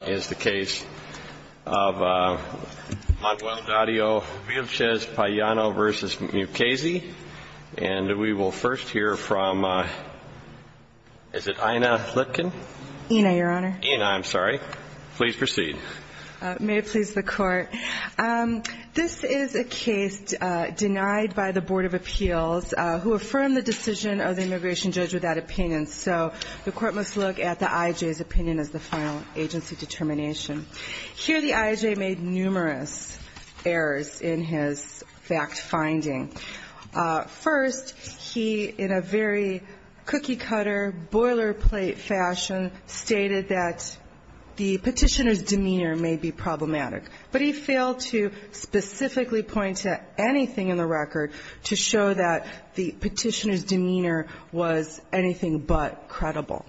This is a case denied by the Board of Appeals, who affirmed the decision of the immigration judge without opinion, so the court must look at the IJ's opinion as the final agency to determine whether or not the immigration judge is in favor of the decision. Here the IJ made numerous errors in his fact-finding. First, he, in a very cookie-cutter, boilerplate fashion, stated that the petitioner's demeanor may be problematic, but he failed to specifically point to anything in the record to show that the petitioner's demeanor was anything but credible.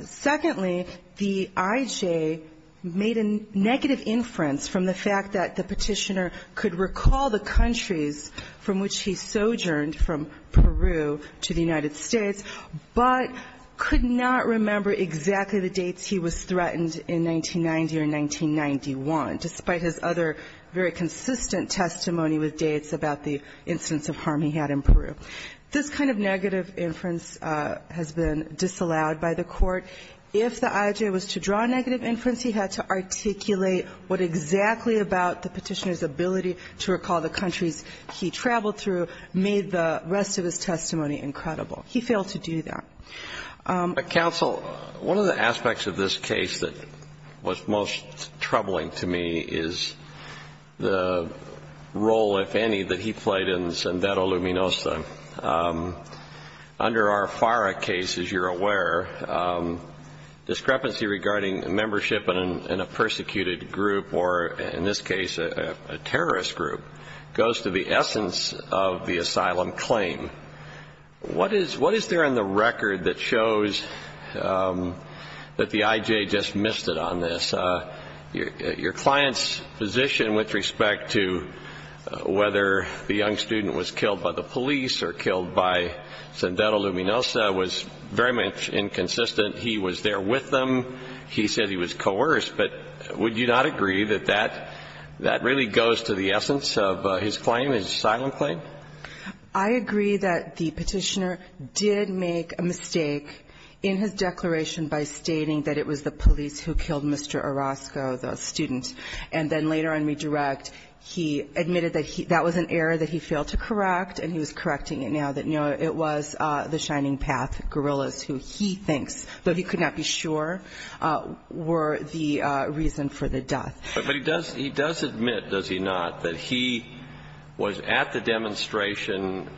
Secondly, the IJ made a negative inference from the fact that the petitioner could recall the countries from which he sojourned, from Peru to the United States, but could not remember exactly the dates he was threatened in 1990 or 1991, despite his other very consistent testimony with dates about the instance of harm he had in Peru. This kind of negative inference has been disallowed by the court. If the IJ was to draw a negative inference, he had to articulate what exactly about the petitioner's ability to recall the countries he traveled through made the rest of his testimony incredible. He failed to do that. But, counsel, one of the aspects of this case that was most troubling to me is the role, if any, that he played in Zendeto Luminosa. Under our FARA case, as you're aware, discrepancy regarding membership in a persecuted group or, in this case, a terrorist group, goes to the essence of the asylum claim. What is there in the record that shows that the IJ just missed it on this? Your client's position with respect to whether the young student was killed by the police or killed by Zendeto Luminosa was very much inconsistent. He was there with them. He said he was coerced. But would you not agree that that really goes to the essence of his claim, his asylum claim? I agree that the petitioner did make a mistake in his declaration by stating that it was the police who killed Mr. Orozco, the student. And then later in Redirect, he admitted that that was an error that he failed to correct, and he was correcting it now, that, no, it was the Shining Path guerrillas who he thinks, though he could not be sure, were the reason for the death. But he does admit, does he not, that he was at the demonstration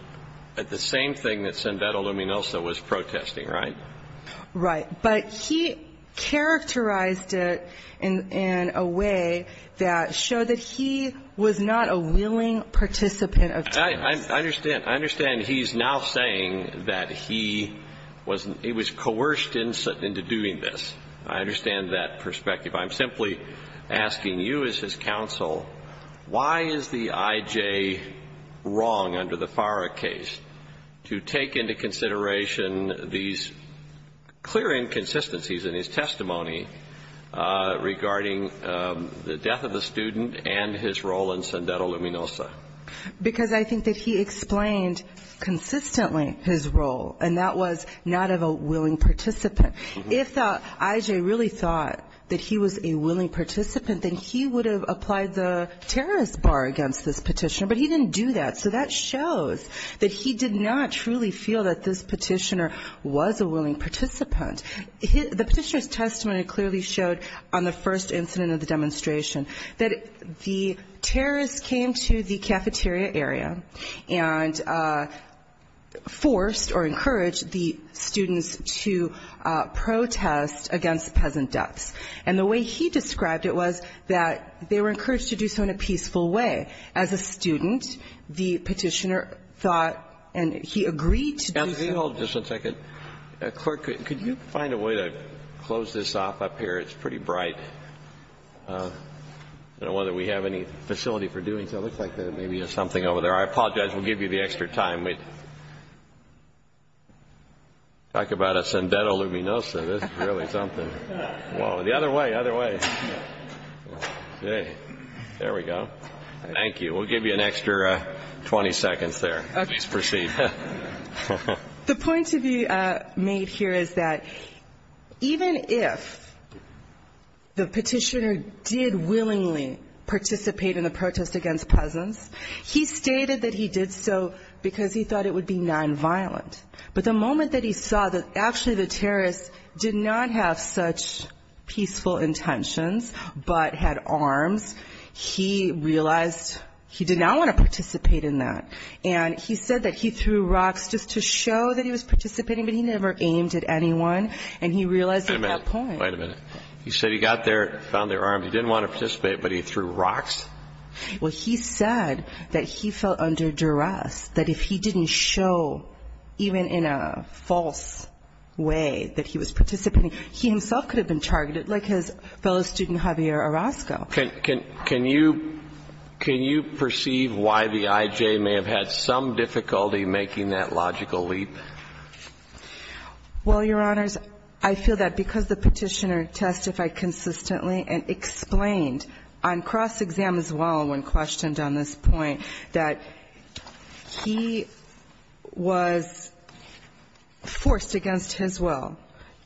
at the same thing that Zendeto Luminosa was protesting, right? Right. But he characterized it in a way that showed that he was not a willing participant of terrorism. I understand he's now saying that he was coerced into doing this. I understand that perspective. I'm simply asking you as his counsel, why is the I.J. wrong under the FARA case to take into consideration these clear inconsistencies in his testimony regarding the death of the student and his role in Zendeto Luminosa? Because I think that he explained consistently his role, and that was not of a willing participant. If the I.J. really thought that he was a willing participant, then he would have applied the terrorist bar against this petitioner. But he didn't do that. So that shows that he did not truly feel that this petitioner was a willing participant. The petitioner's testimony clearly showed on the first incident of the demonstration that the terrorists came to the cafeteria area and forced or encouraged the students to protest against peasant deaths. And the way he described it was that they were encouraged to do so in a peaceful way. As a student, the petitioner thought and he agreed to do so. I'll just hold just a second. Clerk, could you find a way to close this off up here? It's pretty bright. I don't know whether we have any facility for doing so. It looks like there maybe is something over there. I apologize. We'll give you the extra time. Talk about a Zendeto Luminosa. This is really something. Whoa. The other way, other way. There we go. Thank you. We'll give you an extra 20 seconds there. Please proceed. The point to be made here is that even if the petitioner did willingly participate in the protest against peasants, he stated that he did so because he thought it would be nonviolent. But the moment that he saw that actually the terrorists did not have such peaceful intentions but had arms, he realized he did not want to participate in that. And he said that he threw rocks just to show that he was participating, but he never aimed at anyone. And he realized he had a point. Wait a minute. He said he got there, found their arms. He didn't want to participate, but he threw rocks? Well, he said that he felt under duress, that if he didn't show, even in a false way, that he was participating, he himself could have been targeted like his fellow student Javier Orozco. Can you perceive why the I.J. may have had some difficulty making that logical leap? Well, Your Honors, I feel that because the petitioner testified consistently and explained on cross-exam as well when questioned on this point that he was forced against his will.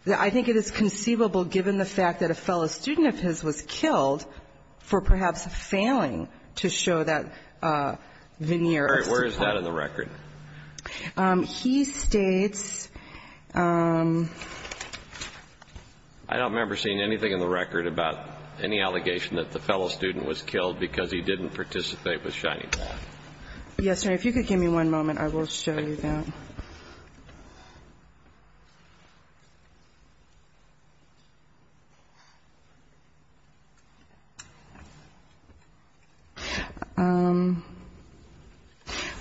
I think it is conceivable, given the fact that a fellow student of his was killed for perhaps failing to show that veneer of support. All right. Where is that in the record? He states ---- I don't remember seeing anything in the record about any allegation that the fellow student was killed because he didn't participate with shiny black. Yes, Your Honor. If you could give me one moment, I will show you that.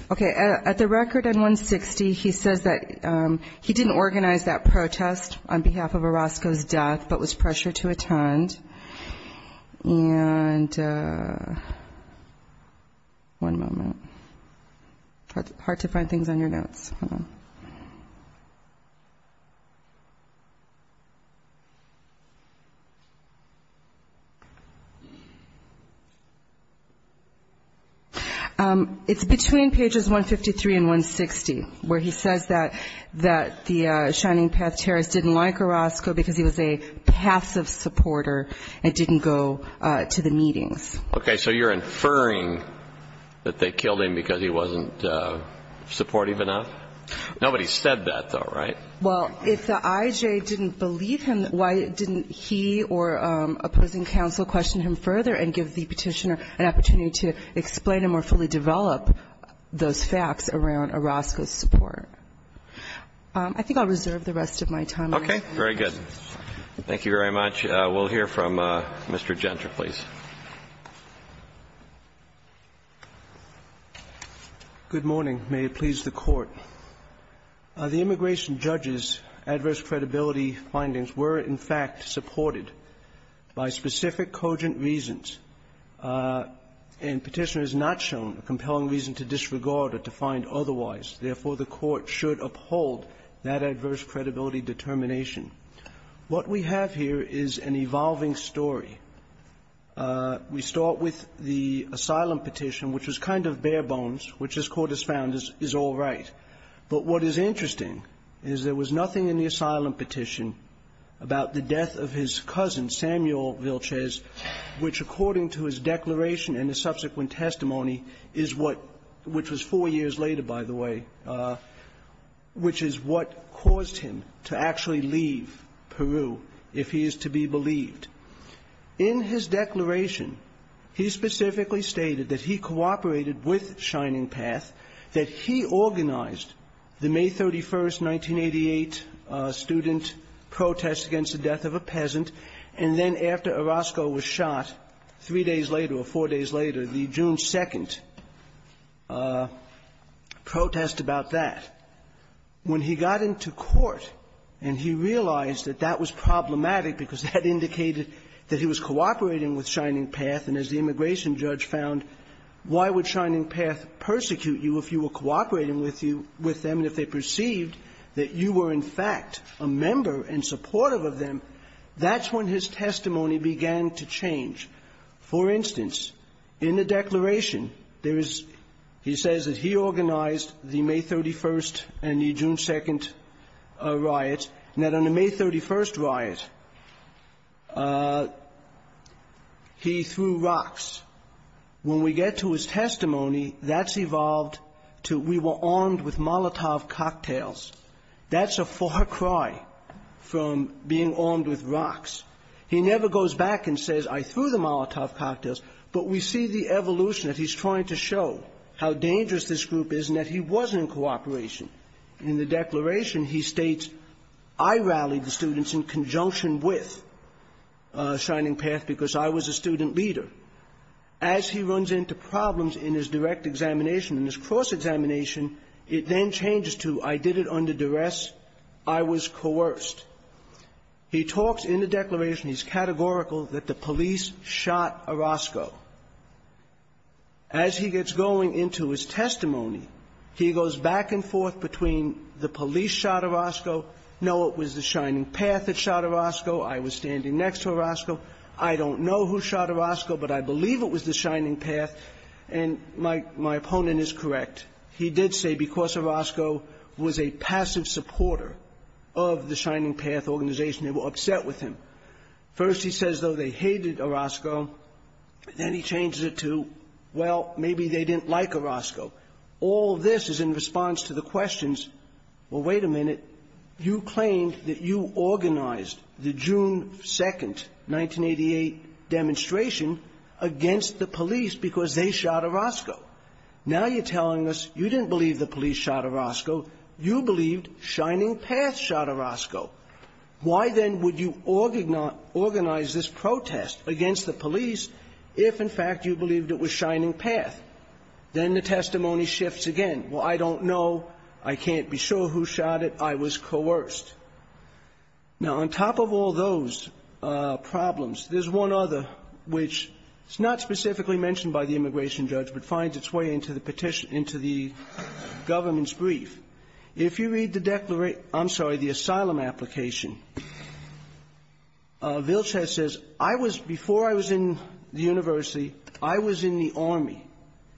Okay. At the record in 160, he says that he didn't organize that protest on behalf of Orozco's death, but was pressured to attend. And one moment. Hard to find things on your notes. Hold on. It's between pages 153 and 160 where he says that the Shining Path terrorists didn't like Orozco because he was a passive supporter and didn't go to the meetings. Okay. So you're inferring that they killed him because he wasn't supportive enough? Nobody said that, though, right? Well, if the IJ didn't believe him, why didn't he or opposing counsel question him further and give the Petitioner an opportunity to explain and more fully develop those facts around Orozco's support? I think I'll reserve the rest of my time. Okay. Very good. Thank you very much. We'll hear from Mr. Gentry, please. Good morning. May it please the Court. The immigration judge's adverse credibility findings were, in fact, supported by specific cogent reasons. And Petitioner has not shown a compelling reason to disregard or to find otherwise. Therefore, the Court should uphold that adverse credibility determination. What we have here is an evolving story. We start with the asylum petition, which was kind of bare bones, which this Court has found is all right. But what is interesting is there was nothing in the asylum petition about the death of his cousin, Samuel Vilches, which, according to his declaration and the subsequent testimony, is what – which was four years later, by the way – which is what caused him to actually leave Peru, if he is to be believed. In his declaration, he specifically stated that he cooperated with Shining Path, that he organized the May 31st, 1988 student protest against the death of a peasant, and then after Orozco was shot three days later or four days later, the June 2nd protest about that. When he got into court and he realized that that was problematic because that indicated that he was cooperating with Shining Path, and as the immigration judge found, why would Shining Path persecute you if you were cooperating with you – with them and if they perceived that you were in fact a member and supportive of them, that's when his testimony began to change. For instance, in the declaration, there is – he says that he organized the May 31st and the June 2nd riots, and that on the May 31st riot, he threw rocks. When we get to his testimony, that's evolved to we were armed with Molotov cocktails. That's a far cry from being armed with rocks. He never goes back and says, I threw the Molotov cocktails, but we see the evolution that he's trying to show, how dangerous this group is and that he was in cooperation. In the declaration, he states, I rallied the students in conjunction with Shining Path because I was a student leader. As he runs into problems in his direct examination and his cross-examination, it then changes to, I did it under duress. I was coerced. He talks in the declaration, he's categorical, that the police shot Orozco. As he gets going into his testimony, he goes back and forth between the police shot Orozco, no, it was the Shining Path that shot Orozco, I was standing next to Orozco, I don't know who shot Orozco, but I believe it was the Shining Path, and my opponent is correct. He did say, because Orozco was a passive supporter of the Shining Path organization, they were upset with him. First he says, though, they hated Orozco, then he changes it to, well, maybe they didn't like Orozco. All this is in response to the questions, well, wait a minute, you claimed that you organized the June 2nd, 1988 demonstration against the police because they shot Orozco. Now you're telling us, you didn't believe the police shot Orozco, you believed Shining Path shot Orozco. Why then would you organize this protest against the police if, in fact, you believed it was Shining Path? Then the testimony shifts again. Well, I don't know, I can't be sure who shot it, I was coerced. Now, on top of all those problems, there's one other which is not specifically mentioned by the immigration judge, but finds its way into the petition, into the government's brief. If you read the declaration, I'm sorry, the asylum application, Vilches says, I was, before I was in the university, I was in the Army,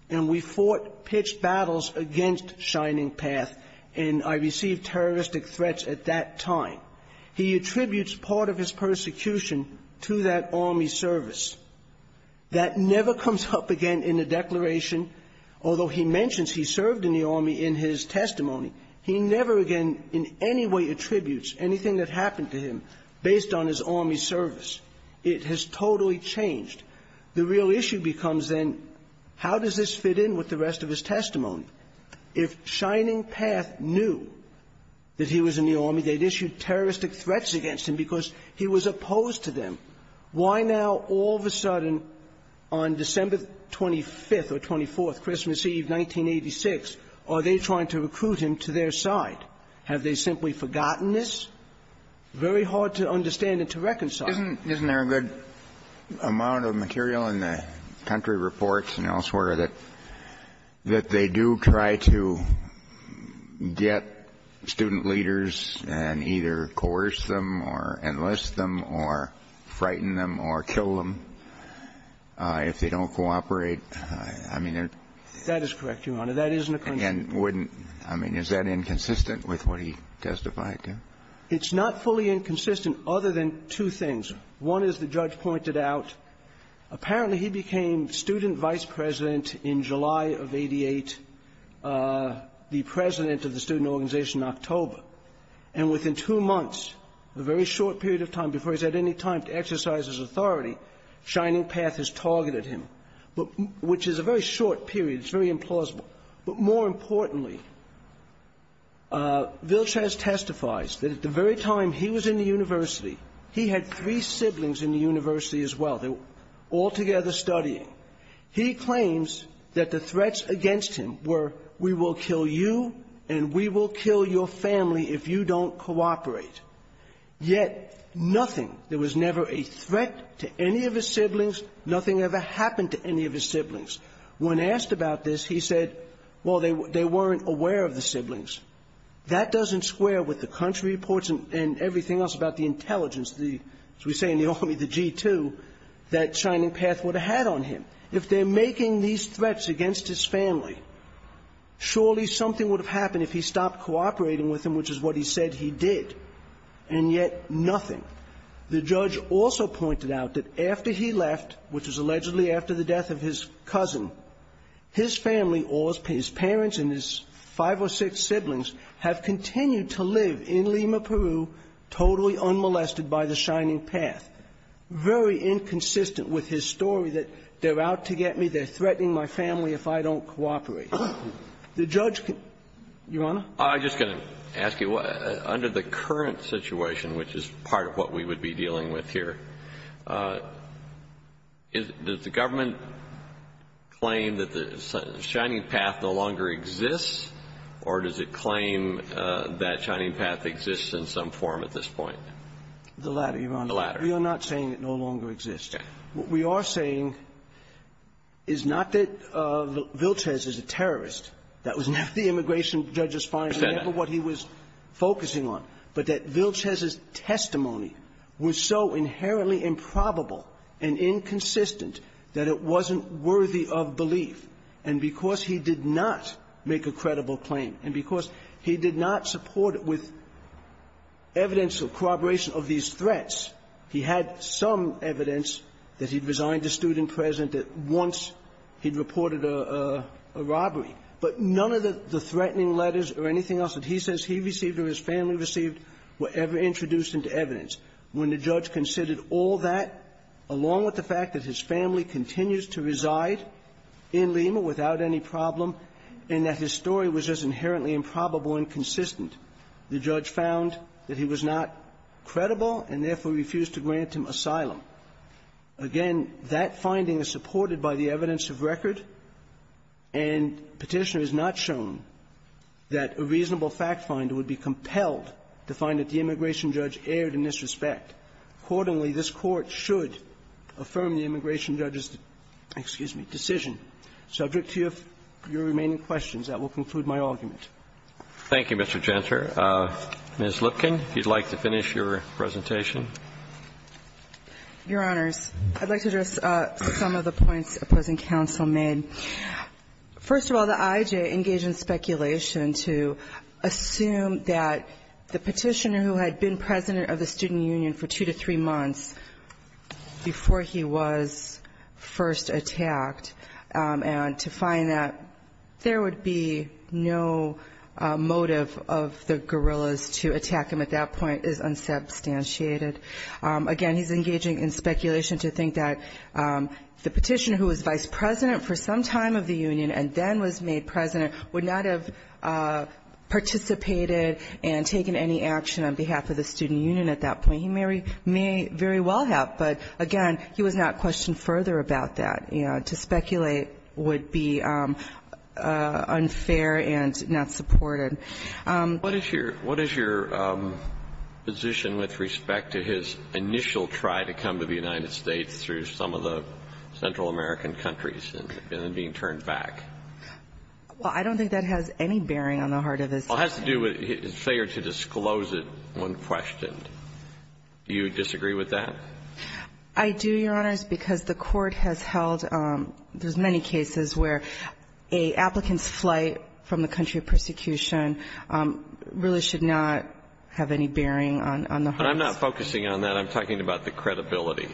and we fought pitched battles against Shining Path, and I received terroristic threats at that time. He attributes part of his persecution to that Army service. That never comes up again in the declaration, although he mentions he served in the Army in his testimony. He never again in any way attributes anything that happened to him based on his Army service. It has totally changed. The real issue becomes then, how does this fit in with the rest of his testimony? If Shining Path knew that he was in the Army, they'd issue terroristic threats against him because he was opposed to them. Why now, all of a sudden, on December 25th or 24th, Christmas Eve, 1986, are they trying to recruit him to their side? Have they simply forgotten this? Very hard to understand and to reconcile. Isn't there a good amount of material in the country reports and elsewhere that they do try to get student leaders and either coerce them or enlist them or frighten them or kill them if they don't cooperate? I mean, there's no question. That is correct, Your Honor. That isn't a question. And wouldn't – I mean, is that inconsistent with what he testified to? It's not fully inconsistent other than two things. One is, the judge pointed out, apparently he became student vice president in July of 88, the president of the student organization in October. And within two months, a very short period of time before he's had any time to exercise his authority, Shining Path has targeted him, which is a very short period. It's very implausible. But more importantly, Vilchaz testifies that at the very time he was in the university, he had three siblings in the university as well. They were all together studying. He claims that the threats against him were, we will kill you and we will kill your family if you don't cooperate. Yet nothing – there was never a threat to any of his siblings. Nothing ever happened to any of his siblings. When asked about this, he said, well, they weren't aware of the siblings. That doesn't square with the country reports and everything else about the intelligence, as we say in the Army, the G2, that Shining Path would have had on him. If they're making these threats against his family, surely something would have happened if he stopped cooperating with them, which is what he said he did. And yet nothing. The judge also pointed out that after he left, which was allegedly after the death of his cousin, his family or his parents and his five or six siblings have continued to live in Lima, Peru, totally unmolested by the Shining Path. Very inconsistent with his story that they're out to get me, they're threatening my family if I don't cooperate. The judge can – Your Honor? I'm just going to ask you, under the current situation, which is part of what we would be dealing with here, does the government claim that the Shining Path no longer exists, or does it claim that Shining Path exists in some form at this point? The latter, Your Honor. The latter. We are not saying it no longer exists. Okay. What we are saying is not that Vilchez is a terrorist. That was never the immigration judge's finding. I said that. But that Vilchez's testimony was so inherently improbable and inconsistent that it wasn't worthy of belief. And because he did not make a credible claim, and because he did not support it with evidence of corroboration of these threats, he had some evidence that he'd resigned as student president, that once he'd reported a robbery. But none of the threatening letters or anything else that he says he received or his family received were ever introduced into evidence. When the judge considered all that, along with the fact that his family continues to reside in Lima without any problem, and that his story was just inherently improbable and inconsistent, the judge found that he was not credible and therefore refused to grant him asylum. Again, that finding is supported by the evidence of record, and Petitioner has not shown that a reasonable fact finder would be compelled to find that the immigration judge erred in this respect. Accordingly, this Court should affirm the immigration judge's, excuse me, decision. Subject to your remaining questions, that will conclude my argument. Roberts. Thank you, Mr. Jentzer. Ms. Lipkin, if you'd like to finish your presentation. Your Honors, I'd like to address some of the points opposing counsel made. First of all, the IJ engaged in speculation to assume that the Petitioner, who had been president of the student union for two to three months before he was first attacked, and to find that there would be no motive of the guerrillas to attack him at that point is unsubstantiated. Again, he's engaging in speculation to think that the Petitioner, who was vice president for some time of the union and then was made president, would not have participated and taken any action on behalf of the student union at that point. He may very well have, but again, he was not questioned further about that. You know, to speculate would be unfair and not supported. What is your position with respect to his initial try to come to the United States through some of the Central American countries and then being turned back? Well, I don't think that has any bearing on the heart of his case. Well, it has to do with his failure to disclose it when questioned. Do you disagree with that? I do, Your Honors, because the Court has held there's many cases where an applicant's prosecution really should not have any bearing on the hearts. I'm not focusing on that. I'm talking about the credibility.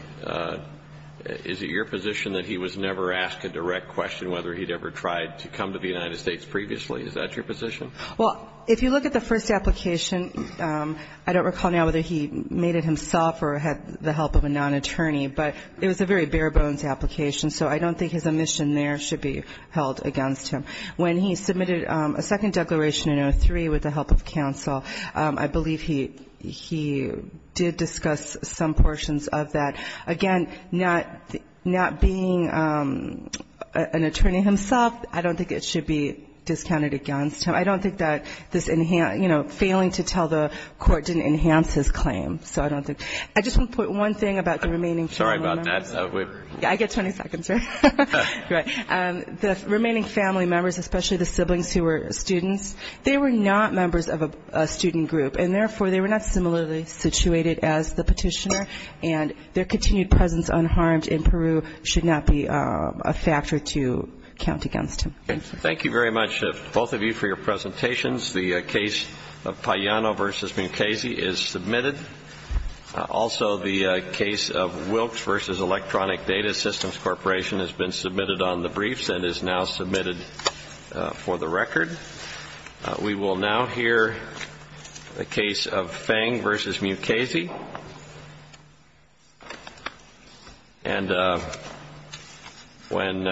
Is it your position that he was never asked a direct question, whether he'd ever tried to come to the United States previously? Is that your position? Well, if you look at the first application, I don't recall now whether he made it himself or had the help of a non-attorney, but it was a very bare-bones application, so I don't think his omission there should be held against him. When he submitted a second declaration in 03 with the help of counsel, I believe he did discuss some portions of that. Again, not being an attorney himself, I don't think it should be discounted against him. I don't think that this, you know, failing to tell the Court didn't enhance his claim, so I don't think. I just want to put one thing about the remaining family members. Sorry about that. Yeah, I get 20 seconds, right? The remaining family members, especially the siblings who were students, they were not members of a student group, and therefore they were not similarly situated as the petitioner, and their continued presence unharmed in Peru should not be a factor to count against him. Thank you very much, both of you, for your presentations. The case of Pagliano v. Mucasey is submitted. Also, the case of Wilkes v. Electronic Data Systems Corporation has been submitted on the briefs and is now submitted for the record. We will now hear the case of Feng v. Mucasey. And when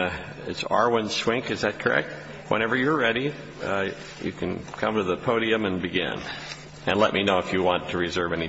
it's Arwin Swink, is that correct? Whenever you're ready, you can come to the podium and begin. And let me know if you want to reserve any time.